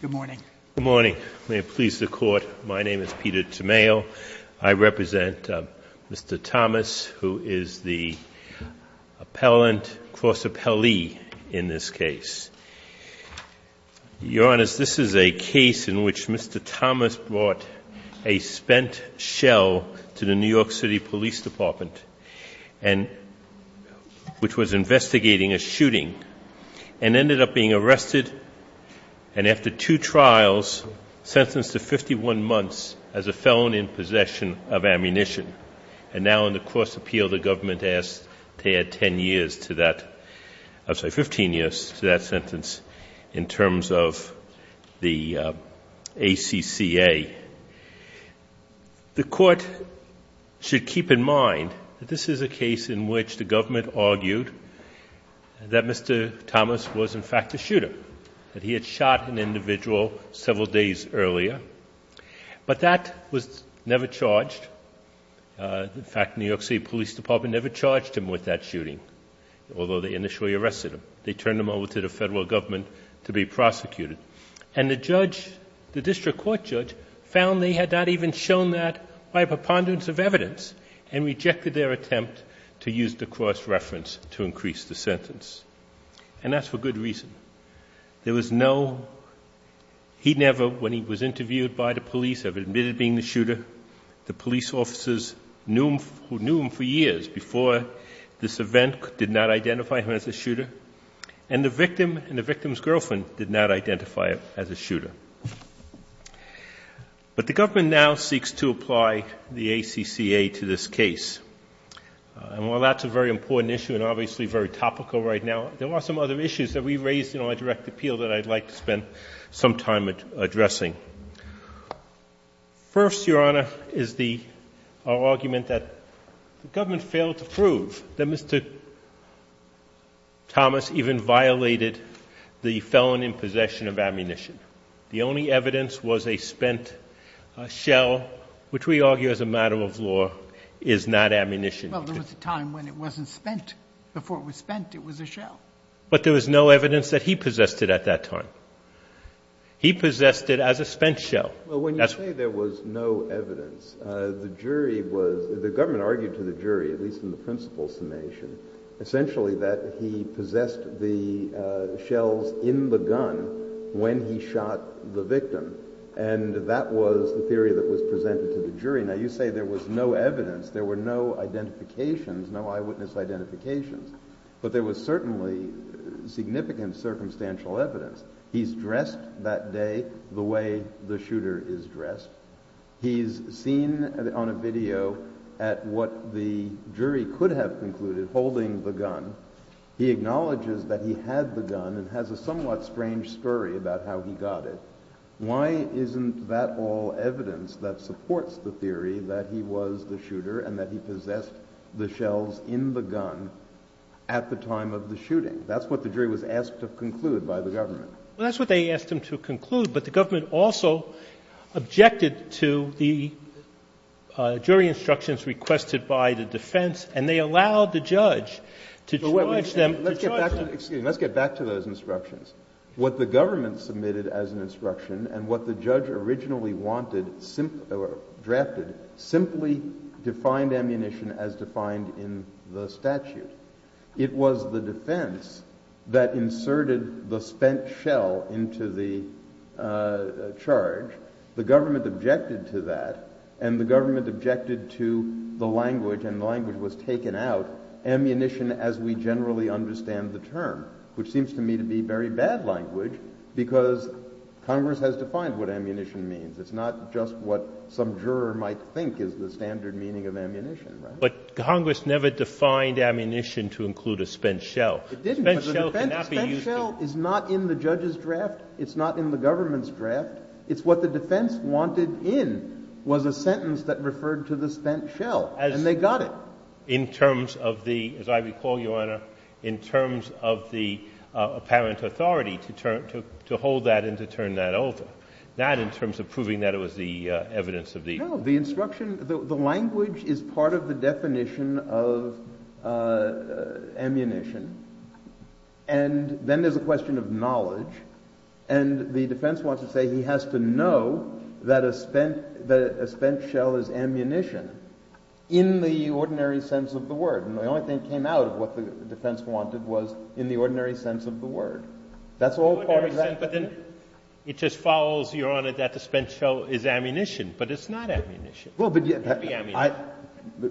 Good morning. Good morning. May it please the Court, my name is Peter Tamayo. I represent Mr. Thomas, who is the appellant, cross-appellee in this case. Your Honor, this is a case in which Mr. Thomas brought a spent shell to the New York City Police Department, which was investigating a shooting, and ended up being arrested, and after two trials, sentenced to 51 months as a felon in possession of ammunition. And now in the cross-appeal, the government asked to add 10 years to that, I'm sorry, 15 years to that sentence in terms of the ACCA. The Court should keep in mind that this is a case in which the government argued that Mr. Thomas was in fact a shooter, that he had shot an individual several days earlier, but that was never charged. In fact, New York City Police Department never charged him with that shooting, although they initially arrested him. They turned him over to the Federal Government to be prosecuted. And the judge, the district court judge, found they had not even shown that by preponderance of evidence, and rejected their attempt to use the cross-reference to increase the sentence. And that's for good reason. There was no, he never, when he was interviewed by the police, admitted being the shooter. The police officers knew him for years before this event, did not identify him as a shooter. And the victim and the victim's girlfriend did not identify him as a shooter. But the government now seeks to apply the ACCA to this case. And while that's a very important issue and obviously very topical right now, there are some other issues that we raised in our direct appeal that I'd like to spend some time addressing. First, Your Honor, is the argument that the government failed to prove that Mr. Thomas even violated the felon in possession of ammunition. The only evidence was a spent shell, which we argue as a matter of law is not ammunition. Well, there was a time when it wasn't spent. Before it was spent, it was a shell. But there was no evidence that he possessed it at that time. He possessed it as a spent shell. Well, when you say there was no evidence, the jury was, the government argued to the jury, at least in the principle summation, essentially that he possessed the shells in the gun when he shot the victim. And that was the theory that was presented to the jury. Now, you say there was no evidence, there were no identifications, no eyewitness identifications. But there was certainly significant circumstantial evidence. He's dressed that day the way the shooter is dressed. He's seen on a video at what the jury could have concluded, holding the gun. He acknowledges that he had the gun and has a somewhat strange story about how he got it. Why isn't that all evidence that supports the theory that he was the shooter and that he possessed the shells in the gun at the time of the shooting? That's what the jury was asked to conclude by the government. Well, that's what they asked him to conclude. But the government also objected to the jury instructions requested by the defense, and they allowed the judge to charge them. Let's get back to those instructions. What the government submitted as an instruction and what the judge originally drafted simply defined ammunition as defined in the statute. It was the defense that inserted the spent shell into the charge. The government objected to that, and the government objected to the language, and the language was taken out, ammunition as we generally understand the term, which seems to me to be very bad language because Congress has defined what ammunition means. It's not just what some juror might think is the standard meaning of ammunition, right? But Congress never defined ammunition to include a spent shell. It didn't, but the spent shell is not in the judge's draft. It's not in the government's draft. It's what the defense wanted in was a sentence that referred to the spent shell, and they got it. In terms of the, as I recall, Your Honor, in terms of the apparent authority to hold that and to turn that over, that in terms of proving that it was the evidence of the instruction. The language is part of the definition of ammunition, and then there's a question of knowledge, and the defense wants to say he has to know that a spent shell is ammunition. In the ordinary sense of the word, and the only thing that came out of what the defense wanted was in the ordinary sense of the word. That's all part of that. But then it just follows, Your Honor, that the spent shell is ammunition, but it's not ammunition. It can't be ammunition.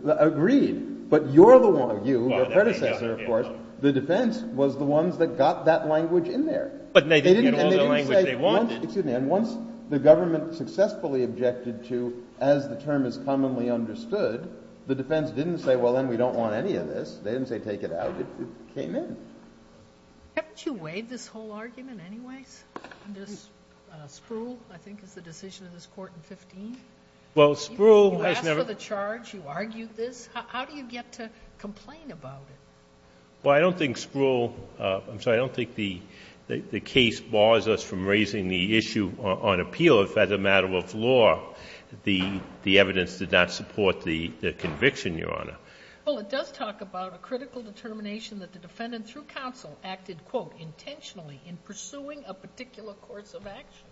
Agreed, but you're the one, you, your predecessor, of course. The defense was the ones that got that language in there. But they didn't get all the language they wanted. Excuse me. And once the government successfully objected to, as the term is commonly understood, the defense didn't say, well, then we don't want any of this. They didn't say take it out. It came in. Haven't you weighed this whole argument anyways? This Spruill, I think, is the decision of this Court in 15. Well, Spruill has never You asked for the charge. You argued this. How do you get to complain about it? Well, I don't think Spruill — I'm sorry. I don't think the case bars us from raising the issue on appeal if, as a matter of law, the evidence did not support the conviction, Your Honor. Well, it does talk about a critical determination that the defendant, through counsel, acted, quote, intentionally in pursuing a particular course of action.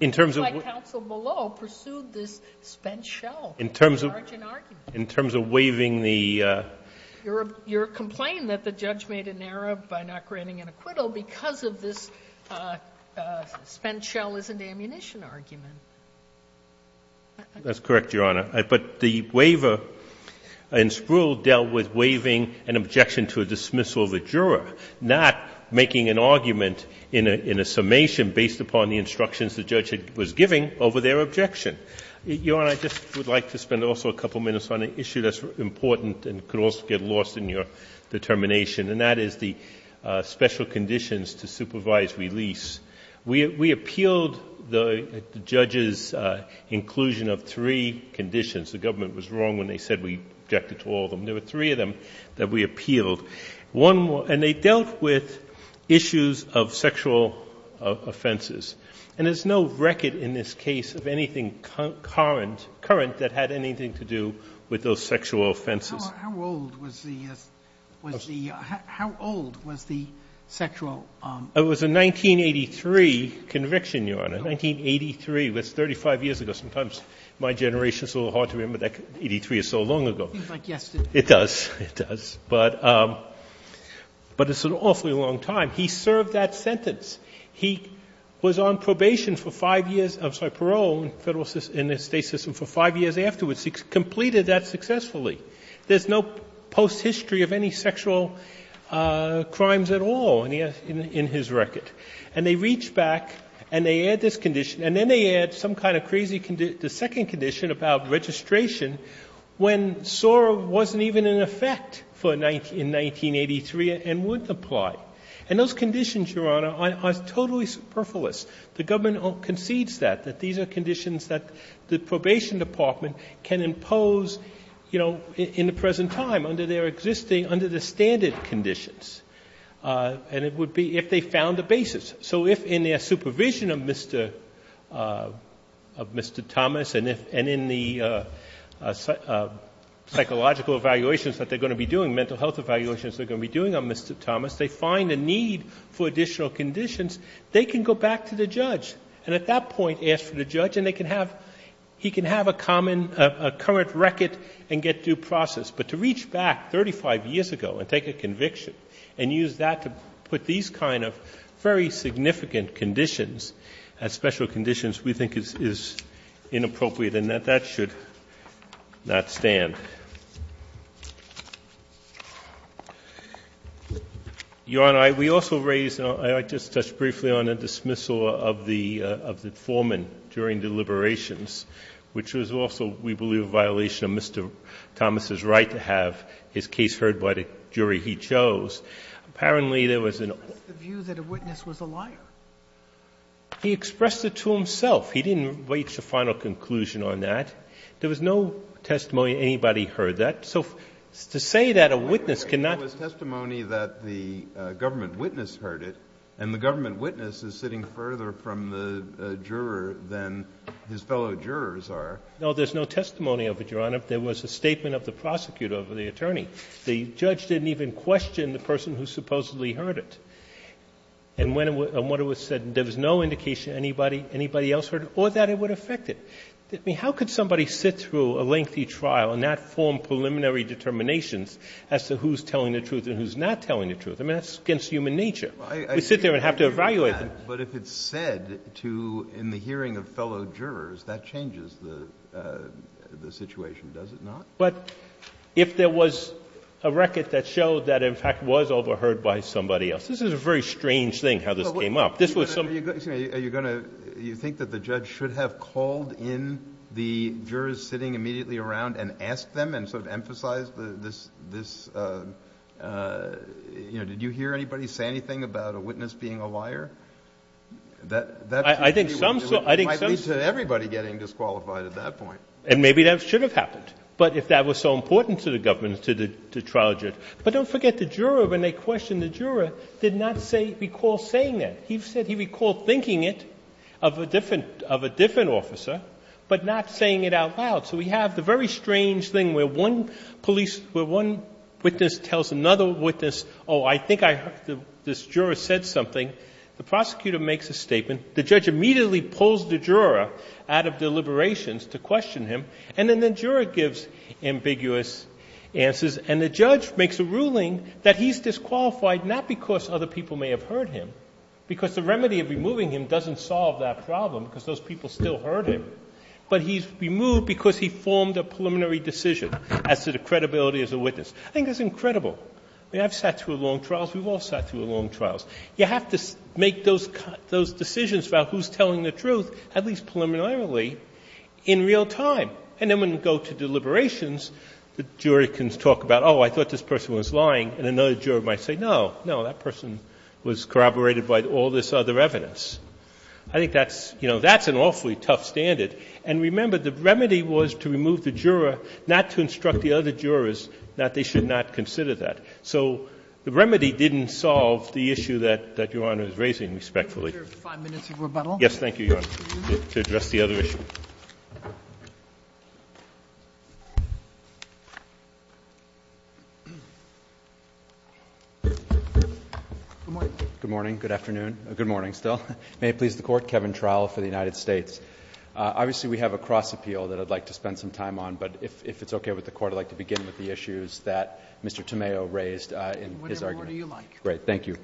In terms of — It's just like counsel below pursued this spent shell. In terms of — In large an argument. In terms of waiving the — You're complaining that the judge made an error by not granting an acquittal because of this spent shell isn't ammunition argument. That's correct, Your Honor. But the waiver in Spruill dealt with waiving an objection to a dismissal of a juror, not making an argument in a summation based upon the instructions the judge was giving over their objection. Your Honor, I just would like to spend also a couple minutes on an issue that's important and could also get lost in your determination, and that is the special conditions to supervise release. We appealed the judge's inclusion of three conditions. The government was wrong when they said we objected to all of them. There were three of them that we appealed. One more — and they dealt with issues of sexual offenses. And there's no record in this case of anything current that had anything to do with those sexual offenses. How old was the — was the — how old was the sexual — It was a 1983 conviction, Your Honor, 1983. It was 35 years ago. Sometimes my generation is a little hard to remember that. Eighty-three is so long ago. It seems like yesterday. It does. It does. But it's an awfully long time. He served that sentence. He was on probation for five years — I'm sorry, parole in the State system for five years afterwards. He completed that successfully. There's no post-history of any sexual crimes at all in his record. And they reach back and they add this condition. And then they add some kind of crazy — the second condition about registration when SOAR wasn't even in effect for — in 1983 and wouldn't apply. And those conditions, Your Honor, are totally superfluous. The government concedes that, that these are conditions that the probation department can impose, you know, in the present time under their existing — under the standard conditions. And it would be if they found a basis. So if in their supervision of Mr. — of Mr. Thomas and in the psychological evaluations that they're going to be doing, mental health evaluations they're going to be doing on Mr. Thomas, they find a need for additional conditions, they can go back to the judge and at that point ask for the judge. And they can have — he can have a common — a current record and get due process. But to reach back 35 years ago and take a conviction and use that to put these kind of very significant conditions as special conditions we think is inappropriate and that that should not stand. Your Honor, we also raised — I just touched briefly on a dismissal of the foreman during deliberations, which was also, we believe, a violation of Mr. Thomas' right to have his case heard by the jury he chose. Apparently there was an — Sotomayor, that's the view that a witness was a liar. He expressed it to himself. He didn't reach a final conclusion on that. There was no testimony anybody heard that. So to say that a witness cannot — There was testimony that the government witness heard it, and the government witness is sitting further from the juror than his fellow jurors are. No, there's no testimony of it, Your Honor. There was a statement of the prosecutor or the attorney. The judge didn't even question the person who supposedly heard it. And when it was said there was no indication anybody else heard it or that it would affect it. I mean, how could somebody sit through a lengthy trial and not form preliminary determinations as to who's telling the truth and who's not telling the truth? I mean, that's against human nature. We sit there and have to evaluate them. But if it's said to — in the hearing of fellow jurors, that changes the situation, does it not? But if there was a record that showed that, in fact, was overheard by somebody else. This is a very strange thing how this came up. This was some — Are you going to — you think that the judge should have called in the jurors sitting immediately around and asked them and sort of emphasized this — you know, did you hear anybody say anything about a witness being a liar? That — I think some — It might lead to everybody getting disqualified at that point. And maybe that should have happened. But if that was so important to the government, to the trial judge. But don't forget, the juror, when they questioned the juror, did not say — recall saying that. He said he recalled thinking it of a different — of a different officer, but not saying it out loud. So we have the very strange thing where one police — where one witness tells another witness, oh, I think I — this juror said something. The prosecutor makes a statement. The judge immediately pulls the juror out of deliberations to question him. And then the juror gives ambiguous answers. And the judge makes a ruling that he's disqualified not because other people may have heard him, because the remedy of removing him doesn't solve that problem, because those people still heard him. But he's removed because he formed a preliminary decision as to the credibility as a witness. I think that's incredible. I mean, I've sat through long trials. We've all sat through long trials. You have to make those — those decisions about who's telling the truth, at least preliminarily, in real time. And then when you go to deliberations, the jury can talk about, oh, I thought this person was lying. And another juror might say, no, no, that person was corroborated by all this other evidence. I think that's — you know, that's an awfully tough standard. And remember, the remedy was to remove the juror, not to instruct the other jurors that they should not consider that. So the remedy didn't solve the issue that Your Honor is raising, respectfully. Roberts. Five minutes of rebuttal. Yes. Thank you, Your Honor, to address the other issue. Good morning. Good morning. Good afternoon. Good morning, still. May it please the Court. Kevin Trowell for the United States. Obviously, we have a cross appeal that I'd like to spend some time on, but if it's okay with the Court, I'd like to begin with the issues that Mr. Tomeo raised in his argument. Whatever order you like. Great. Thank you.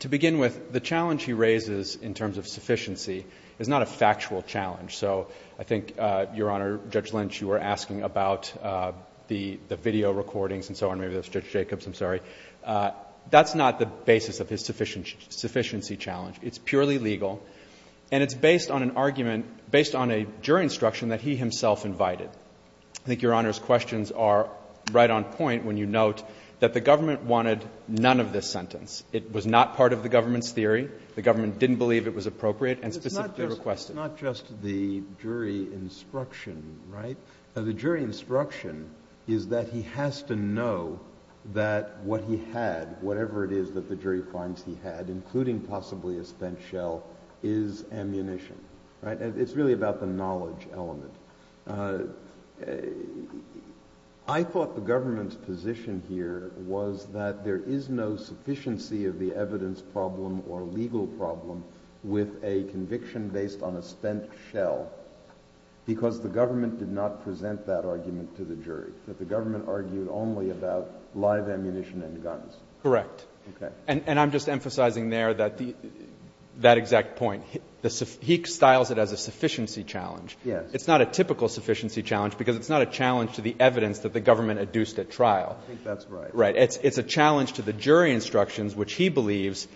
To begin with, the challenge he raises in terms of sufficiency is not a factual challenge. So I think, Your Honor, Judge Lynch, you were asking about the video recordings and so on. Maybe that was Judge Jacobs. I'm sorry. That's not the basis of his sufficiency challenge. It's purely legal, and it's based on an argument — based on a jury instruction that he himself invited. I think Your Honor's questions are right on point when you note that the government wanted none of this sentence. It was not part of the government's theory. The government didn't believe it was appropriate and specifically requested. It's not just the jury instruction, right? The jury instruction is that he has to know that what he had, whatever it is that the jury finds he had, including possibly a spent shell, is ammunition, right? It's really about the knowledge element. I thought the government's position here was that there is no sufficiency of the evidence problem or legal problem with a conviction based on a spent shell because the government did not present that argument to the jury, that the government argued only about live ammunition and guns. Correct. Okay. And I'm just emphasizing there that the — that exact point. He styles it as a sufficiency challenge. It's not a typical sufficiency challenge because it's not a challenge to the evidence that the government adduced at trial. I think that's right. Right. It's a challenge to the jury instructions, which he believes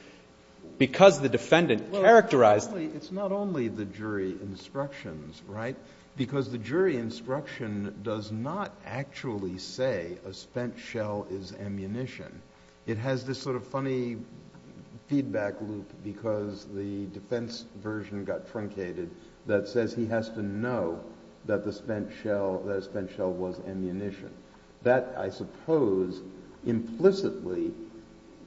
because the defendant characterized — Well, it's not only the jury instructions, right? Because the jury instruction does not actually say a spent shell is ammunition. It has this sort of funny feedback loop because the defense version got truncated that says he has to know that the spent shell — that a spent shell was ammunition. That, I suppose, implicitly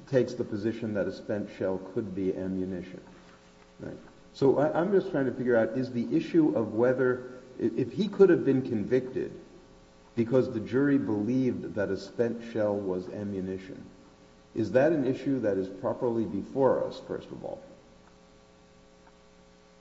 takes the position that a spent shell could be ammunition. Right. So I'm just trying to figure out is the issue of whether — if he could have been convicted because the jury believed that a spent shell was ammunition, is that an issue that is properly before us, first of all?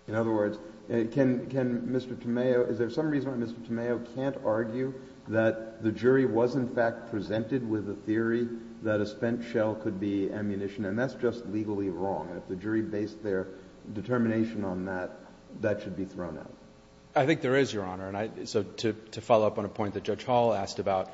In other words, can Mr. Tomeo — is there some reason why Mr. Tomeo can't argue that the jury was in fact presented with a theory that a spent shell could be ammunition and that's just legally wrong? If the jury based their determination on that, that should be thrown out. I think there is, Your Honor. So to follow up on a point that Judge Hall asked about,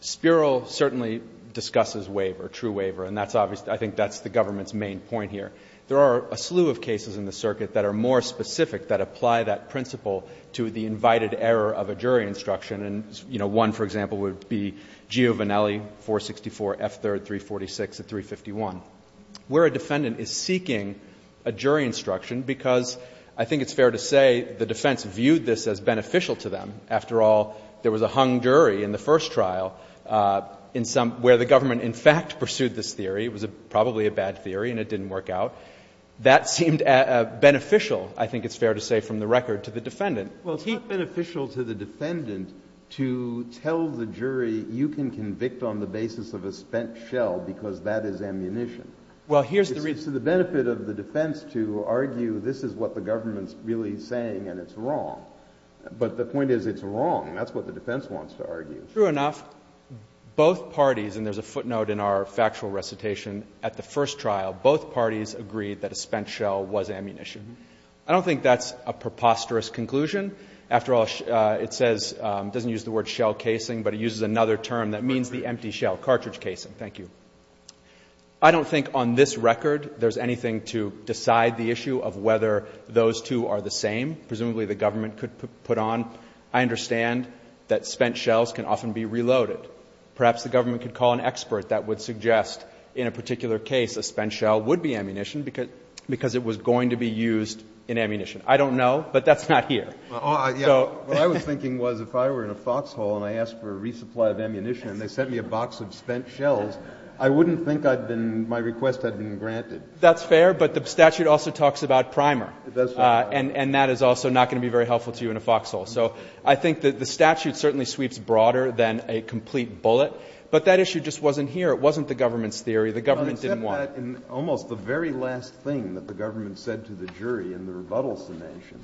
Spiro certainly discusses waiver, true waiver. And that's obviously — I think that's the government's main point here. There are a slew of cases in the circuit that are more specific that apply that principle to the invited error of a jury instruction. And, you know, one, for example, would be Giovinelli, 464 F. 3rd, 346 at 351, where a defendant is seeking a jury instruction because I think it's fair to say the defense viewed this as beneficial to them. After all, there was a hung jury in the first trial in some — where the government in fact pursued this theory. It was probably a bad theory and it didn't work out. That seemed beneficial, I think it's fair to say, from the record to the defendant. Well, it's not beneficial to the defendant to tell the jury you can convict on the basis of a spent shell because that is ammunition. Well, here's the reason. It's to the benefit of the defense to argue this is what the government's really saying and it's wrong. But the point is it's wrong. That's what the defense wants to argue. True enough. Both parties — and there's a footnote in our factual recitation — at the first trial, both parties agreed that a spent shell was ammunition. I don't think that's a preposterous conclusion. After all, it says — doesn't use the word shell casing, but it uses another term that means the empty shell, cartridge casing. Thank you. I don't think on this record there's anything to decide the issue of whether those two are the same, presumably the government could put on. I understand that spent shells can often be reloaded. Perhaps the government could call an expert that would suggest in a particular case a spent shell would be ammunition because it was going to be used in ammunition. I don't know, but that's not here. Well, I was thinking was if I were in a foxhole and I asked for a resupply of ammunition and they sent me a box of spent shells, I wouldn't think I'd been — my request had been granted. That's fair, but the statute also talks about primer. It does talk about primer. And that is also not going to be very helpful to you in a foxhole. So I think that the statute certainly sweeps broader than a complete bullet. But that issue just wasn't here. It wasn't the government's theory. The government didn't want it. Except that in almost the very last thing that the government said to the jury in the rebuttal summation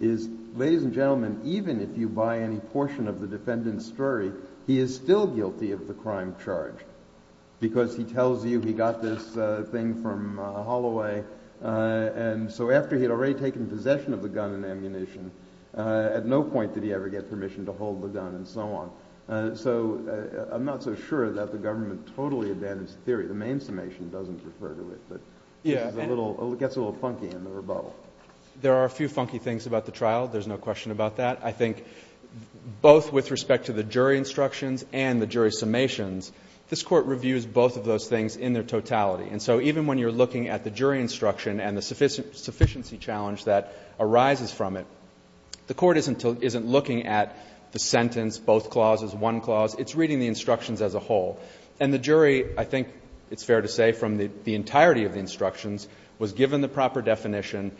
is, ladies and gentlemen, even if you buy any portion of the defendant's story, he is still guilty of the crime charged because he tells you he got this thing from Holloway. And so after he had already taken possession of the gun and ammunition, at no point did he ever get permission to hold the gun and so on. So I'm not so sure that the government totally abandons the theory. The main summation doesn't refer to it. But it gets a little funky in the rebuttal. There are a few funky things about the trial. There's no question about that. I think both with respect to the jury instructions and the jury summations, this Court reviews both of those things in their totality. And so even when you're looking at the jury instruction and the sufficiency challenge that arises from it, the Court isn't looking at the sentence, both clauses, one clause. It's reading the instructions as a whole. And the jury, I think it's fair to say from the entirety of the instructions, was given the proper definition.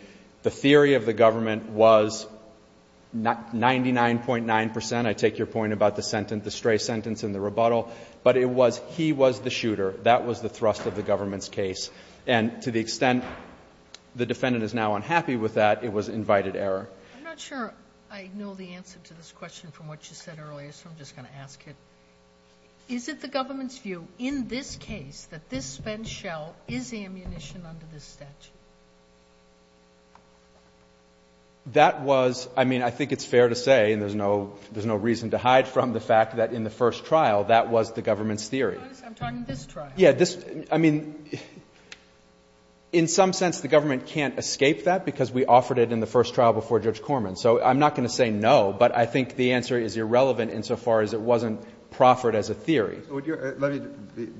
The theory of the government was 99.9 percent. I take your point about the sentence, the stray sentence in the rebuttal. But it was he was the shooter. That was the thrust of the government's case. And to the extent the defendant is now unhappy with that, it was invited error. I'm not sure I know the answer to this question from what you said earlier, so I'm just going to ask it. Is it the government's view in this case that this spent shell is ammunition under this statute? That was, I mean, I think it's fair to say, and there's no reason to hide from the fact that in the first trial, that was the government's theory. I'm talking this trial. Yeah, this, I mean, in some sense the government can't escape that because we offered it in the first trial before Judge Corman. So I'm not going to say no, but I think the answer is irrelevant insofar as it wasn't proffered as a theory. Let me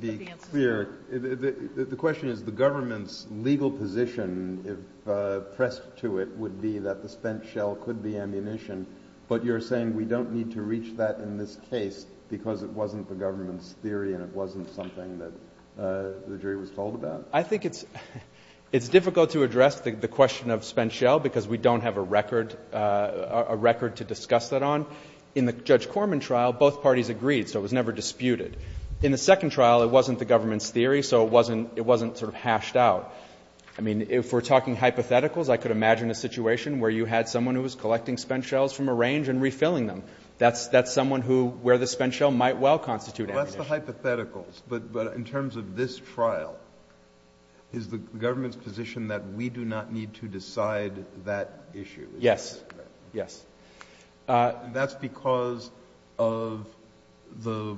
be clear. The question is the government's legal position, if pressed to it, would be that the spent shell could be ammunition. But you're saying we don't need to reach that in this case because it wasn't the jury was told about? I think it's difficult to address the question of spent shell because we don't have a record to discuss that on. In the Judge Corman trial, both parties agreed, so it was never disputed. In the second trial, it wasn't the government's theory, so it wasn't sort of hashed out. I mean, if we're talking hypotheticals, I could imagine a situation where you had someone who was collecting spent shells from a range and refilling them. That's someone who, where the spent shell might well constitute ammunition. Well, that's the hypotheticals. But in terms of this trial, is the government's position that we do not need to decide that issue? Yes. Yes. That's because of the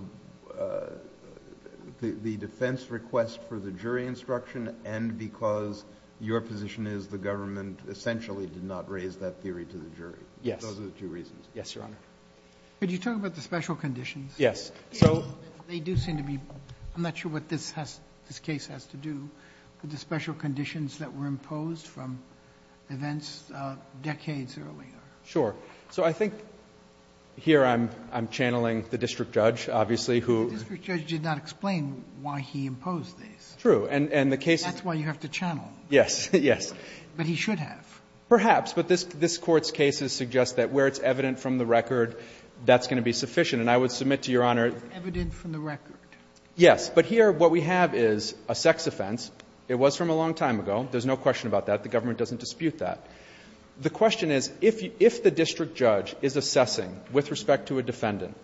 defense request for the jury instruction and because your position is the government essentially did not raise that theory to the jury. Yes. Those are the two reasons. Yes, Your Honor. Could you talk about the special conditions? Yes. They do seem to be, I'm not sure what this has, this case has to do with the special conditions that were imposed from events decades earlier. Sure. So I think here I'm channeling the district judge, obviously, who. The district judge did not explain why he imposed these. True. And the case is. That's why you have to channel. Yes. Yes. But he should have. Perhaps. But this Court's cases suggest that where it's evident from the record, that's going to be sufficient. And I would submit to Your Honor. It's evident from the record. Yes. But here what we have is a sex offense. It was from a long time ago. There's no question about that. The government doesn't dispute that. The question is, if the district judge is assessing with respect to a defendant,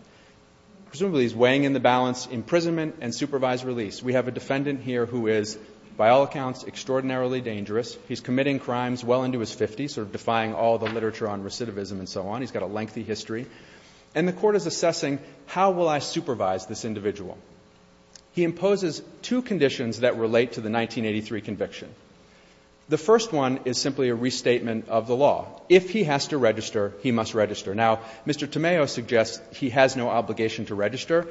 presumably he's weighing in the balance imprisonment and supervised release. We have a defendant here who is, by all accounts, extraordinarily dangerous. He's committing crimes well into his 50s, sort of defying all the literature on recidivism and so on. He's got a lengthy history. And the Court is assessing, how will I supervise this individual? He imposes two conditions that relate to the 1983 conviction. The first one is simply a restatement of the law. If he has to register, he must register. Now, Mr. Tomeo suggests he has no obligation to register.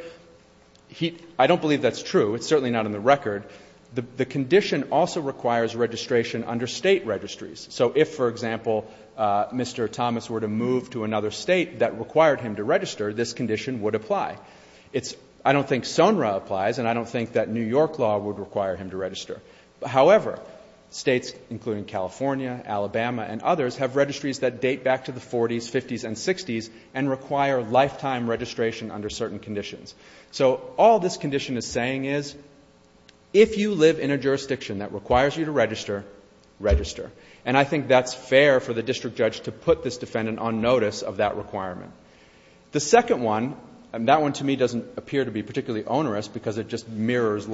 I don't believe that's true. It's certainly not in the record. The condition also requires registration under State registries. So if, for example, Mr. Thomas were to move to another State that required him to register, this condition would apply. I don't think SONRA applies, and I don't think that New York law would require him to register. However, States, including California, Alabama, and others, have registries that date back to the 40s, 50s, and 60s and require lifetime registration under certain conditions. So all this condition is saying is, if you live in a jurisdiction that requires you to register, register. And I think that's fair for the district judge to put this defendant on notice of that requirement. The second one, and that one to me doesn't appear to be particularly onerous because it just mirrors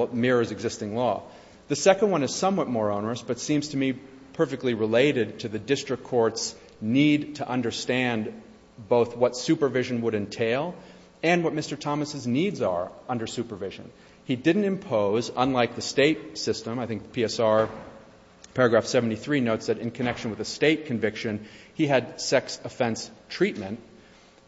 existing law. The second one is somewhat more onerous but seems to me perfectly related to the district court's need to understand both what supervision would entail and what Mr. Thomas' needs are under supervision. He didn't impose, unlike the State system, I think PSR paragraph 73 notes that in connection with a State conviction, he had sex offense treatment.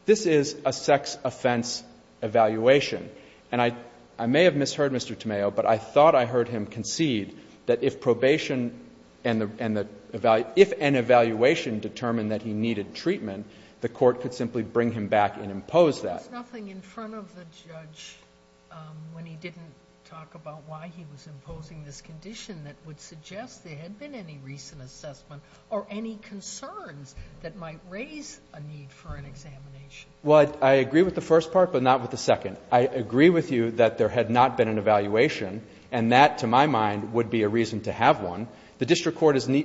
This is a sex offense evaluation. And I may have misheard Mr. Tomeo, but I thought I heard him concede that if probation and the — if an evaluation determined that he needed treatment, the court could simply bring him back and impose that. There was nothing in front of the judge when he didn't talk about why he was imposing this condition that would suggest there had been any recent assessment or any concerns that might raise a need for an examination. Well, I agree with the first part, but not with the second. I agree with you that there had not been an evaluation, and that, to my mind, would be a reason to have one. The district court is — the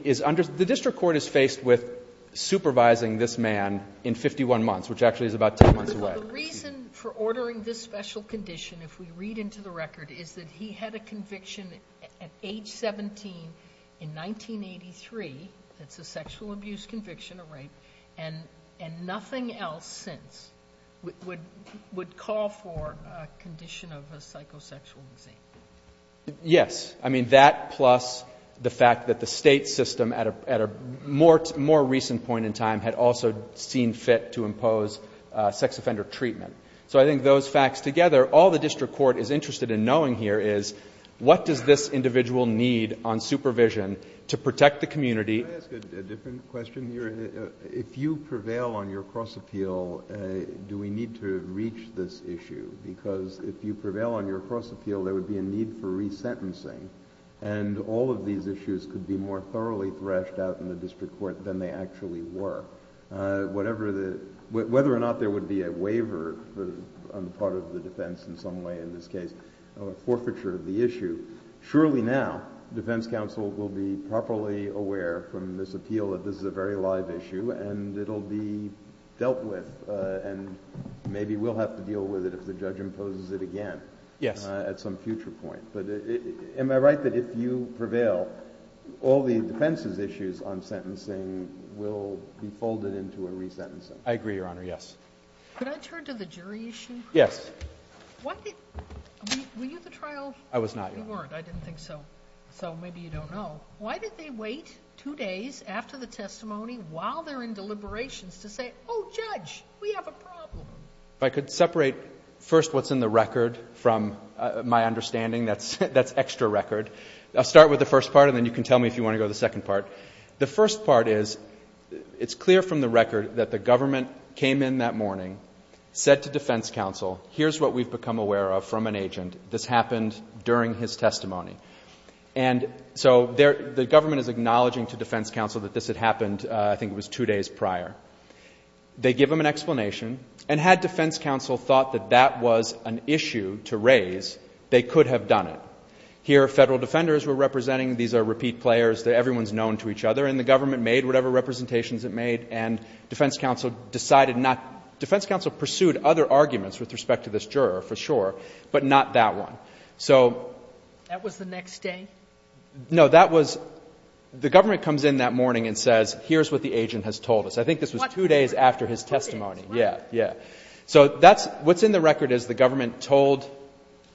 district court is faced with supervising this man in 51 months, which actually is about 10 months away. The reason for ordering this special condition, if we read into the record, is that he had a conviction at age 17 in 1983. It's a sexual abuse conviction, a rape, and nothing else since would call for a condition of a psychosexual disease. Yes. I mean, that plus the fact that the State system at a more recent point in time had also seen fit to impose sex offender treatment. So I think those facts together, all the district court is interested in knowing here is, what does this individual need on supervision to protect the community? Can I ask a different question here? Sure. If you prevail on your cross-appeal, do we need to reach this issue? Because if you prevail on your cross-appeal, there would be a need for resentencing, and all of these issues could be more thoroughly threshed out in the district court than they actually were. Whether or not there would be a waiver on the part of the defense in some way in this case, a forfeiture of the issue, surely now defense counsel will be properly aware from this appeal that this is a very live issue, and it'll be dealt with, and maybe we'll have to deal with it if the judge imposes it again at some future point. But am I right that if you prevail, all the defense's issues on sentencing will be folded into a resentencing? I agree, Your Honor. Yes. Could I turn to the jury issue? Yes. Were you at the trial? I was not, Your Honor. You weren't. I didn't think so. So maybe you don't know. Why did they wait two days after the testimony while they're in deliberations to say, oh, Judge, we have a problem? If I could separate first what's in the record from my understanding. That's extra record. I'll start with the first part, and then you can tell me if you want to go to the second part. The first part is it's clear from the record that the government came in that morning, said to defense counsel, here's what we've become aware of from an agent. This happened during his testimony. And so the government is acknowledging to defense counsel that this had happened, I think it was two days prior. They give him an explanation, and had defense counsel thought that that was an issue to raise, they could have done it. Here, federal defenders were representing. These are repeat players. Everyone's known to each other, and the government made whatever representations it made, and defense counsel decided not. Defense counsel pursued other arguments with respect to this juror, for sure, but not that one. So. That was the next day? No, that was. The government comes in that morning and says, here's what the agent has told us. I think this was two days after his testimony. Yeah. Yeah. So that's, what's in the record is the government told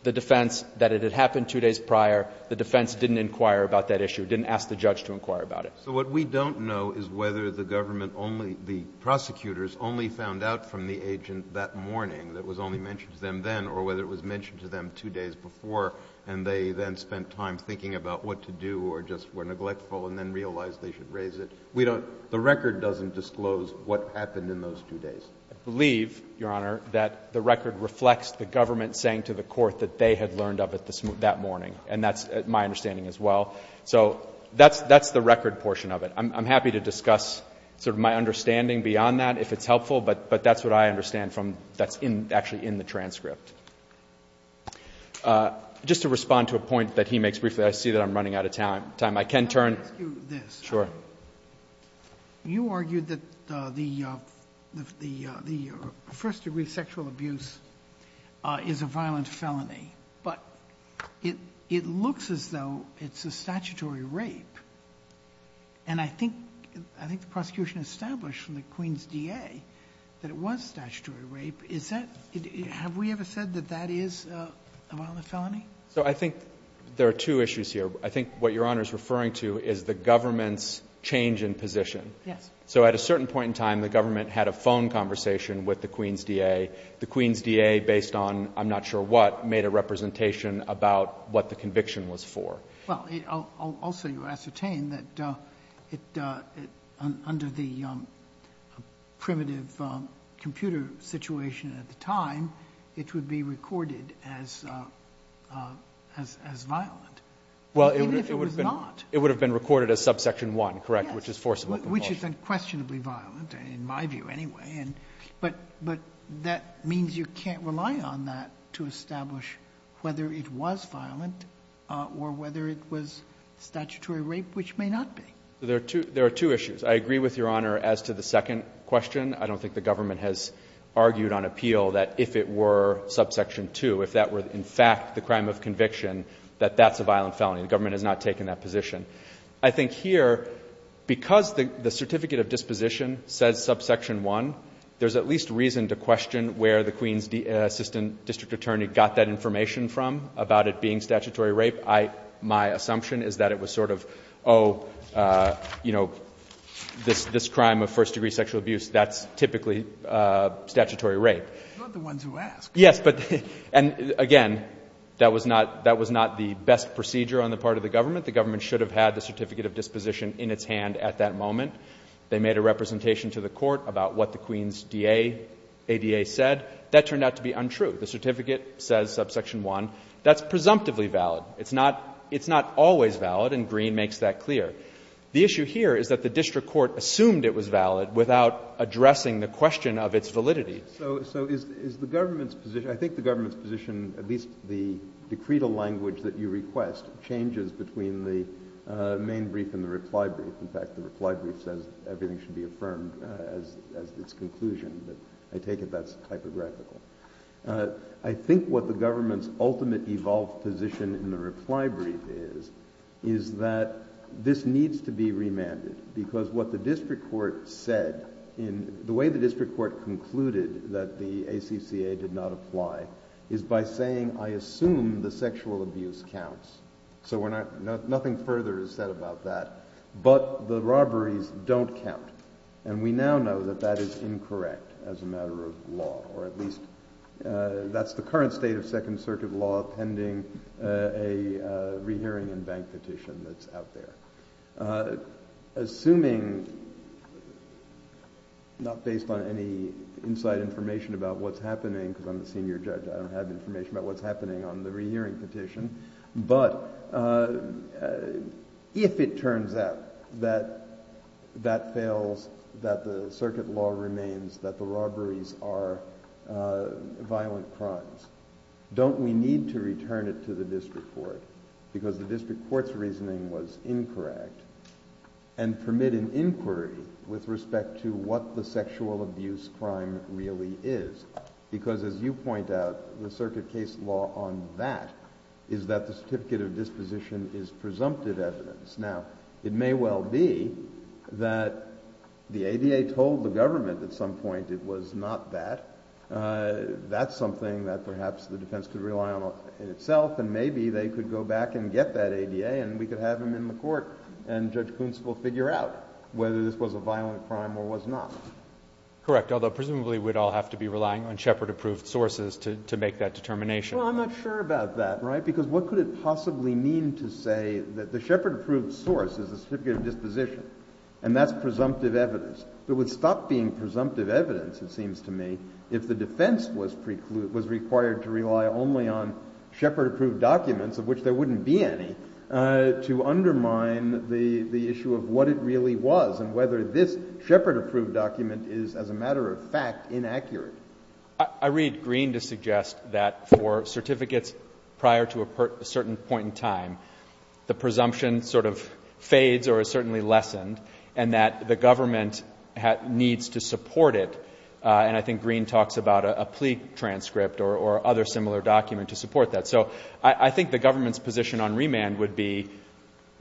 the defense that it had happened two days prior. The defense didn't inquire about that issue, didn't ask the judge to inquire about it. So what we don't know is whether the government only, the prosecutors only found out from the agent that morning that was only mentioned to them then, or whether it was mentioned to them two days before, and they then spent time thinking about what to do, or just were neglectful, and then realized they should raise it. We don't, the record doesn't disclose what happened in those two days. I believe, Your Honor, that the record reflects the government saying to the court that they had learned of it that morning. And that's my understanding as well. So that's the record portion of it. I'm happy to discuss sort of my understanding beyond that if it's helpful, but that's what I understand from, that's actually in the transcript. Just to respond to a point that he makes briefly, I see that I'm running out of time. I can turn. Let me ask you this. Sure. You argued that the first degree sexual abuse is a violent felony. But it looks as though it's a statutory rape. And I think the prosecution established from the Queens DA that it was statutory rape. Is that, have we ever said that that is a violent felony? So I think there are two issues here. I think what Your Honor is referring to is the government's change in position. Yes. So at a certain point in time, the government had a phone conversation with the Queens DA. The Queens DA, based on I'm not sure what, made a representation about what the conviction was for. Well, also you ascertain that under the primitive computer situation at the time, it would be recorded as violent. Even if it was not. Well, it would have been recorded as subsection 1, correct? Yes. Which is forcible compulsion. Which is unquestionably violent, in my view anyway. But that means you can't rely on that to establish whether it was violent or whether it was statutory rape, which may not be. There are two issues. I agree with Your Honor as to the second question. I don't think the government has argued on appeal that if it were subsection 2, if that were in fact the crime of conviction, that that's a violent felony. The government has not taken that position. I think here, because the certificate of disposition says subsection 1, there's at least reason to question where the Queens Assistant District Attorney got that information from about it being statutory rape. My assumption is that it was sort of, oh, you know, this crime of first-degree sexual abuse, that's typically statutory rape. You're not the ones who asked. Yes. And again, that was not the best procedure on the part of the government. The government should have had the certificate of disposition in its hand at that moment. They made a representation to the Court about what the Queens ADA said. That turned out to be untrue. The certificate says subsection 1. That's presumptively valid. It's not always valid, and Green makes that clear. The issue here is that the district court assumed it was valid without addressing the question of its validity. So is the government's position, I think the government's position, at least the decretal language that you request, changes between the main brief and the reply brief. In fact, the reply brief says everything should be affirmed as its conclusion, but I take it that's typographical. I think what the government's ultimate evolved position in the reply brief is, is that this needs to be remanded, because what the district court said, the way the ACCA did not apply, is by saying, I assume the sexual abuse counts. So nothing further is said about that. But the robberies don't count. And we now know that that is incorrect as a matter of law, or at least that's the current state of Second Circuit law pending a rehearing and bank petition that's out there. Assuming, not based on any inside information about what's happening, because I'm the senior judge, I don't have information about what's happening on the rehearing petition, but if it turns out that that fails, that the circuit law remains, that the robberies are violent crimes, don't we need to return it to the court and permit an inquiry with respect to what the sexual abuse crime really is? Because as you point out, the circuit case law on that is that the certificate of disposition is presumptive evidence. Now, it may well be that the ADA told the government at some point it was not that. That's something that perhaps the defense could rely on itself, and maybe they could go back and get that ADA, and we could have him in the court, and Judge Kuntz will figure out whether this was a violent crime or was not. Correct. Although, presumably, we'd all have to be relying on Shepard-approved sources to make that determination. Well, I'm not sure about that, right? Because what could it possibly mean to say that the Shepard-approved source is a certificate of disposition, and that's presumptive evidence? There would stop being presumptive evidence, it seems to me, if the defense was required to rely only on Shepard-approved documents, of which there wouldn't be any, to undermine the issue of what it really was and whether this Shepard-approved document is, as a matter of fact, inaccurate. I read Green to suggest that for certificates prior to a certain point in time, the presumption sort of fades or is certainly lessened, and that the government needs to support it. And I think Green talks about a plea transcript or other similar document to support that. So I think the government's position on remand would be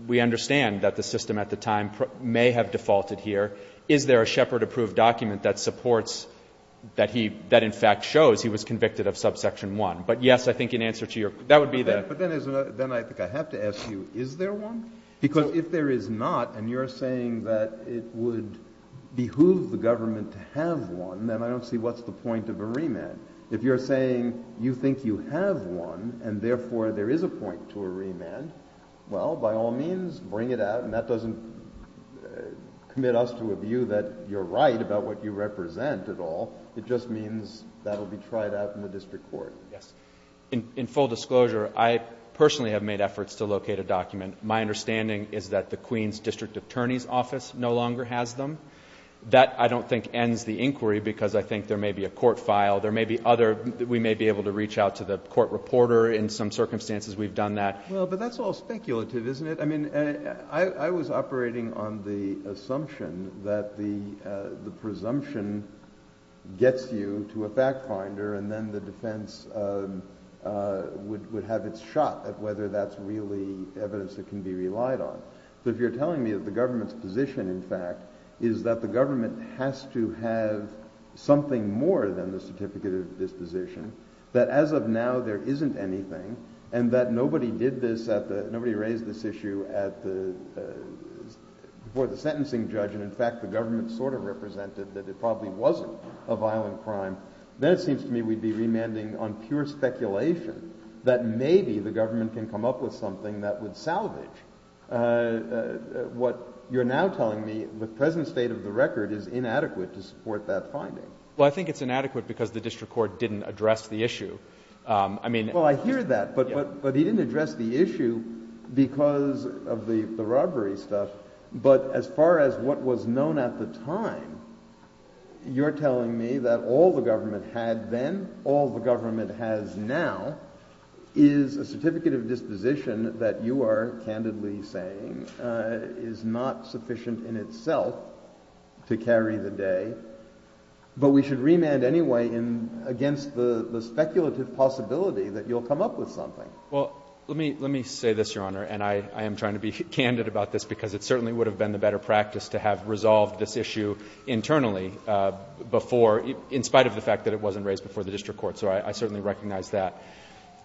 we understand that the system at the time may have defaulted here. Is there a Shepard-approved document that supports, that in fact shows he was convicted of subsection 1? But, yes, I think in answer to your question, that would be the answer. But then I think I have to ask you, is there one? Because if there is not, and you're saying that it would behoove the government to have one, then I don't see what's the point of a remand. If you're saying you think you have one and, therefore, there is a point to a remand, well, by all means, bring it out. And that doesn't commit us to a view that you're right about what you represent at all. It just means that will be tried out in the district court. Yes. In full disclosure, I personally have made efforts to locate a document. My understanding is that the Queens District Attorney's Office no longer has them. That, I don't think, ends the inquiry because I think there may be a court file. There may be other, we may be able to reach out to the court reporter. In some circumstances, we've done that. Well, but that's all speculative, isn't it? I mean, I was operating on the assumption that the presumption gets you to a factfinder and then the defense would have its shot at whether that's really evidence that can be relied on. So if you're telling me that the government's position, in fact, is that the government has to have something more than the certificate of disposition, that as of now there isn't anything and that nobody did this at the, nobody raised this issue at the, before the sentencing judge and, in fact, the government sort of represented that it probably wasn't a violent crime, then it seems to me we'd be remanding on pure speculation that maybe the government can come up with what you're now telling me with present state of the record is inadequate to support that finding. Well, I think it's inadequate because the district court didn't address the issue. I mean... Well, I hear that, but he didn't address the issue because of the robbery stuff. But as far as what was known at the time, you're telling me that all the government had then, all the government has now is a certificate of disposition that you are candidly saying is not sufficient in itself to carry the day. But we should remand anyway against the speculative possibility that you'll come up with something. Well, let me say this, Your Honor, and I am trying to be candid about this because it certainly would have been the better practice to have resolved this issue internally before, in spite of the fact that it wasn't raised before the district court. So I certainly recognize that.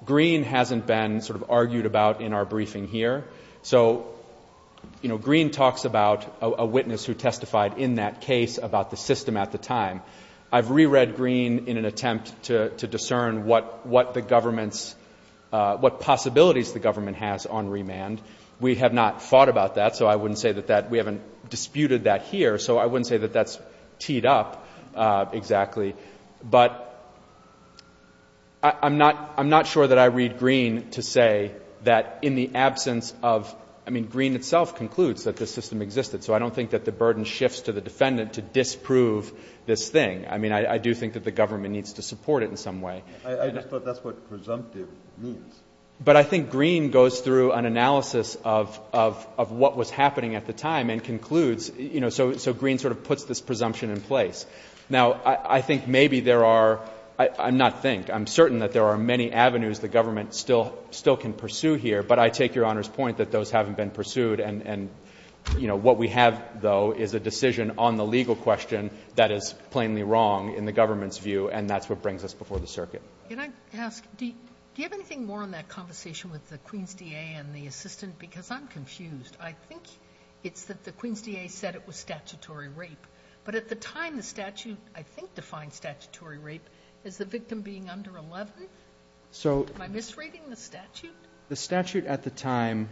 Green hasn't been sort of argued about in our briefing here. So, you know, Green talks about a witness who testified in that case about the system at the time. I've reread Green in an attempt to discern what the government's, what possibilities the government has on remand. We have not fought about that, so I wouldn't say that we haven't disputed that here. So I wouldn't say that that's teed up exactly. But I'm not sure that I read Green to say that in the absence of, I mean, Green itself concludes that this system existed. So I don't think that the burden shifts to the defendant to disprove this thing. I mean, I do think that the government needs to support it in some way. I just thought that's what presumptive means. But I think Green goes through an analysis of what was happening at the time and concludes, you know, so Green sort of puts this presumption in place. Now, I think maybe there are, I'm not think, I'm certain that there are many avenues the government still can pursue here. But I take Your Honor's point that those haven't been pursued. And, you know, what we have, though, is a decision on the legal question that is plainly wrong in the government's view, and that's what brings us before the circuit. Can I ask, do you have anything more on that conversation with the Queen's DA and the assistant? Because I'm confused. I think it's that the Queen's DA said it was statutory rape. But at the time, the statute, I think, defined statutory rape as the victim being under 11. Am I misreading the statute? The statute at the time,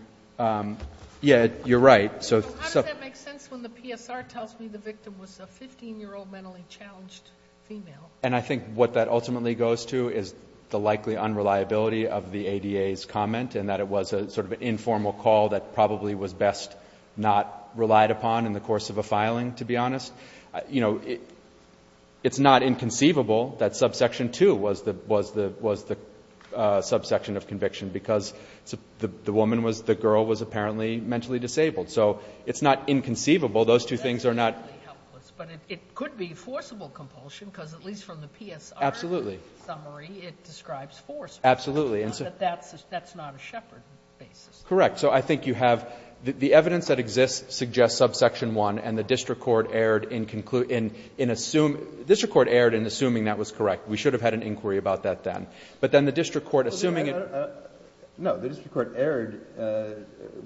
yeah, you're right. So how does that make sense when the PSR tells me the victim was a 15-year-old mentally challenged female? And I think what that ultimately goes to is the likely unreliability of the ADA's comment and that it was sort of an informal call that probably was best not relied upon in the course of a filing, to be honest. You know, it's not inconceivable that subsection 2 was the subsection of conviction because the woman was the girl was apparently mentally disabled. So it's not inconceivable. Those two things are not. But it could be forcible compulsion because at least from the PSR summary, it describes forcible. Absolutely. But that's not a Shepard basis. Correct. So I think you have the evidence that exists suggests subsection 1, and the district court erred in assuming that was correct. We should have had an inquiry about that then. But then the district court, assuming it was correct. No. The district court erred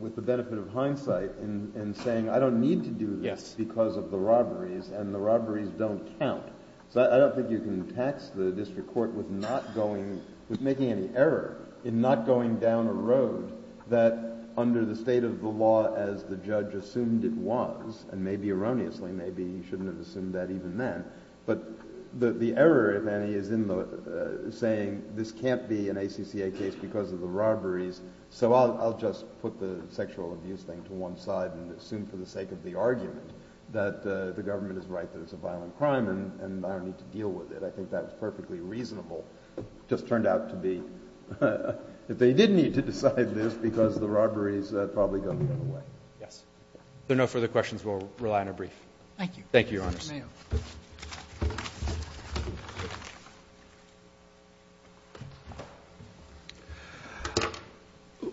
with the benefit of hindsight in saying I don't need to do this because of the robberies, and the robberies don't count. So I don't think you can tax the district court with not going, with making any error in not going down a road that under the state of the law as the judge assumed it was. And maybe erroneously, maybe you shouldn't have assumed that even then. But the error, if any, is in saying this can't be an ACCA case because of the robberies. So I'll just put the sexual abuse thing to one side and assume for the sake of the argument that the government is right that it's a violent crime and I don't need to deal with it. I think that was perfectly reasonable. It just turned out to be, if they did need to decide this because of the robberies, that probably wouldn't have gone away. Yes. If there are no further questions, we'll rely on a brief. Thank you. Thank you, Your Honors.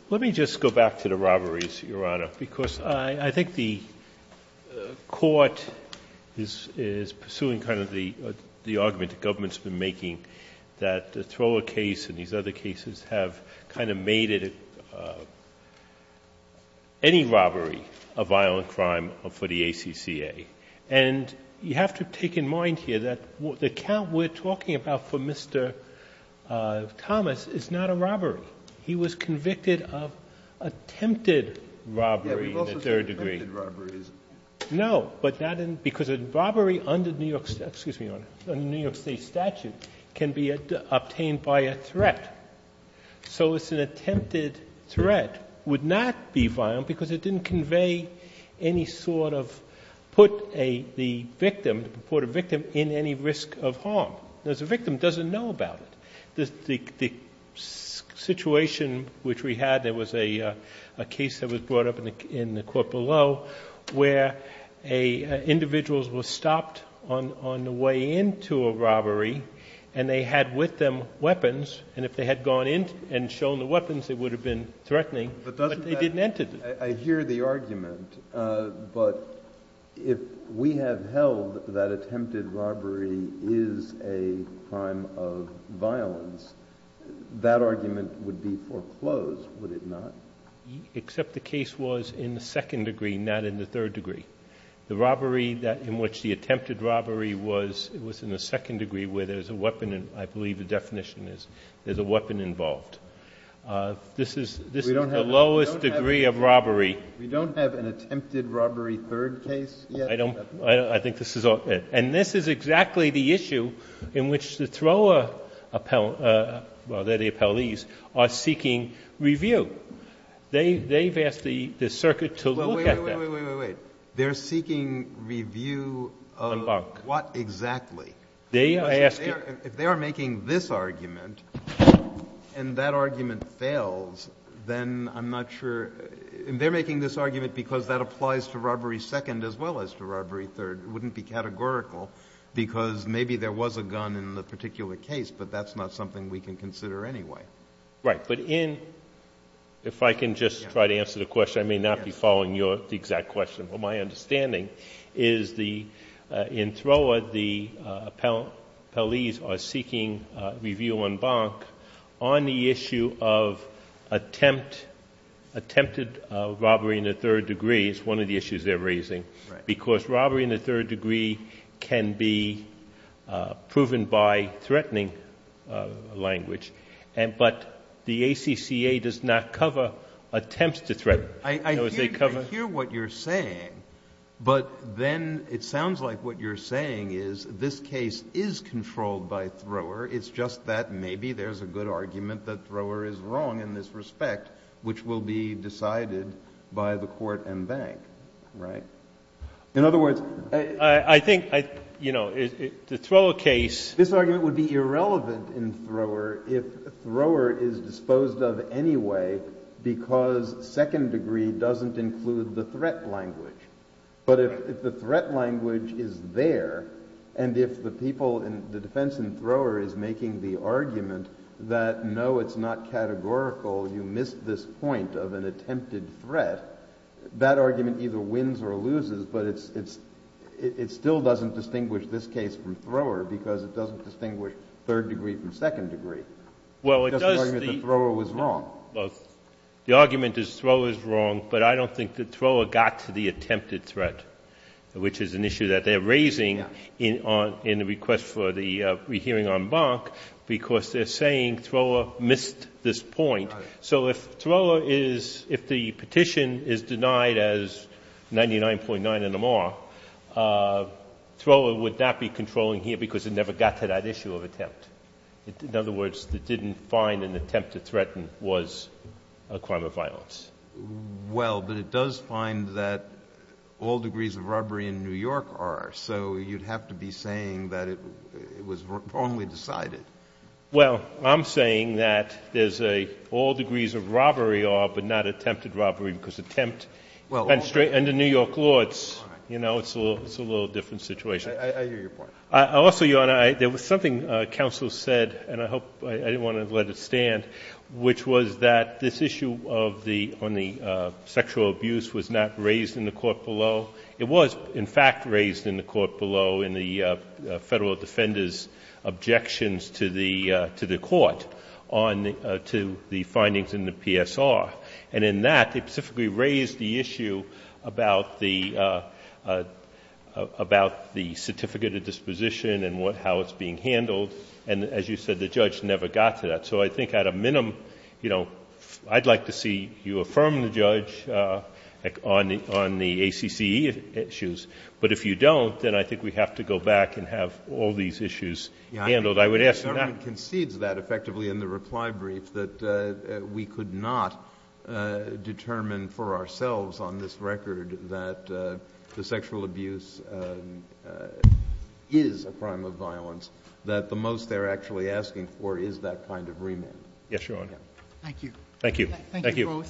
Let me just go back to the robberies, Your Honor, because I think the court is pursuing kind of the argument the government's been making that the Thrower case and these other cases have kind of made it any robbery a violent crime for the ACCA. And you have to take in mind here that the count we're talking about for Mr. Thomas is not a robbery. He was convicted of attempted robbery in the third degree. Yes, we've also said attempted robbery. No, because a robbery under the New York State statute can be obtained by a threat. So an attempted threat would not be violent because it didn't convey any sort of put the victim, the purported victim, in any risk of harm. The victim doesn't know about it. The situation which we had, there was a case that was brought up in the court below where individuals were stopped on the way into a robbery and they had with them weapons. And if they had gone in and shown the weapons, they would have been threatening, but they didn't enter them. I hear the argument, but if we have held that attempted robbery is a crime of violence, that argument would be foreclosed, would it not? Except the case was in the second degree, not in the third degree. The robbery that in which the attempted robbery was, it was in the second degree where there's a weapon and I believe the definition is there's a weapon involved. This is the lowest degree of robbery. We don't have an attempted robbery third case yet. I don't. I think this is all. And this is exactly the issue in which the Thoreau appellees are seeking review. They've asked the circuit to look at that. Wait, wait, wait. They're seeking review of what exactly? If they are making this argument and that argument fails, then I'm not sure. They're making this argument because that applies to robbery second as well as to robbery third. It wouldn't be categorical because maybe there was a gun in the particular case, but that's not something we can consider anyway. Right. But if I can just try to answer the question, I may not be following the exact question, but my understanding is in Thoreau the appellees are seeking review on Bonk on the issue of attempted robbery in the third degree. It's one of the issues they're raising. Because robbery in the third degree can be proven by threatening language, but the ACCA does not cover attempts to threaten. I hear what you're saying, but then it sounds like what you're saying is this case is controlled by Thoreau. It's just that maybe there's a good argument that Thoreau is wrong in this respect, which will be decided by the court and bank. Right? In other words, I think, you know, the Thoreau case. This argument would be irrelevant in Thoreau if Thoreau is disposed of anyway because second degree doesn't include the threat language. But if the threat language is there and if the people in the defense in Thoreau is making the argument that, no, it's not categorical, you missed this point of an attempted threat, that argument either wins or loses, but it still doesn't distinguish this case from Thoreau because it doesn't distinguish third degree from second degree. It's just an argument that Thoreau is wrong. The argument is Thoreau is wrong, but I don't think that Thoreau got to the attempted threat, which is an issue that they're raising in the request for the rehearing on bank because they're saying Thoreau missed this point. Right. So if Thoreau is, if the petition is denied as 99.9 in Amar, Thoreau would not be controlling here because it never got to that issue of attempt. In other words, it didn't find an attempt to threaten was a crime of violence. Well, but it does find that all degrees of robbery in New York are, so you'd have to be saying that it was wrongly decided. Well, I'm saying that there's a all degrees of robbery are, but not attempted robbery because attempt and the New York courts, you know, it's a little different situation. I hear your point. Also, Your Honor, there was something counsel said, and I hope, I didn't want to let it stand, which was that this issue of the, on the sexual abuse was not raised in the court below. It was, in fact, raised in the court below in the Federal Defender's objections to the, to the court on the, to the findings in the PSR. And in that, they specifically raised the issue about the, about the certificate of disposition and what, how it's being handled. And as you said, the judge never got to that. So I think at a minimum, you know, I'd like to see you affirm the judge on the, on the ACC issues. But if you don't, then I think we have to go back and have all these issues handled. I would ask that. The government concedes that effectively in the reply brief that we could not determine for ourselves on this record that the sexual abuse is a crime of violence, that the most they're actually asking for is that kind of remand. Yes, Your Honor. Thank you. Thank you.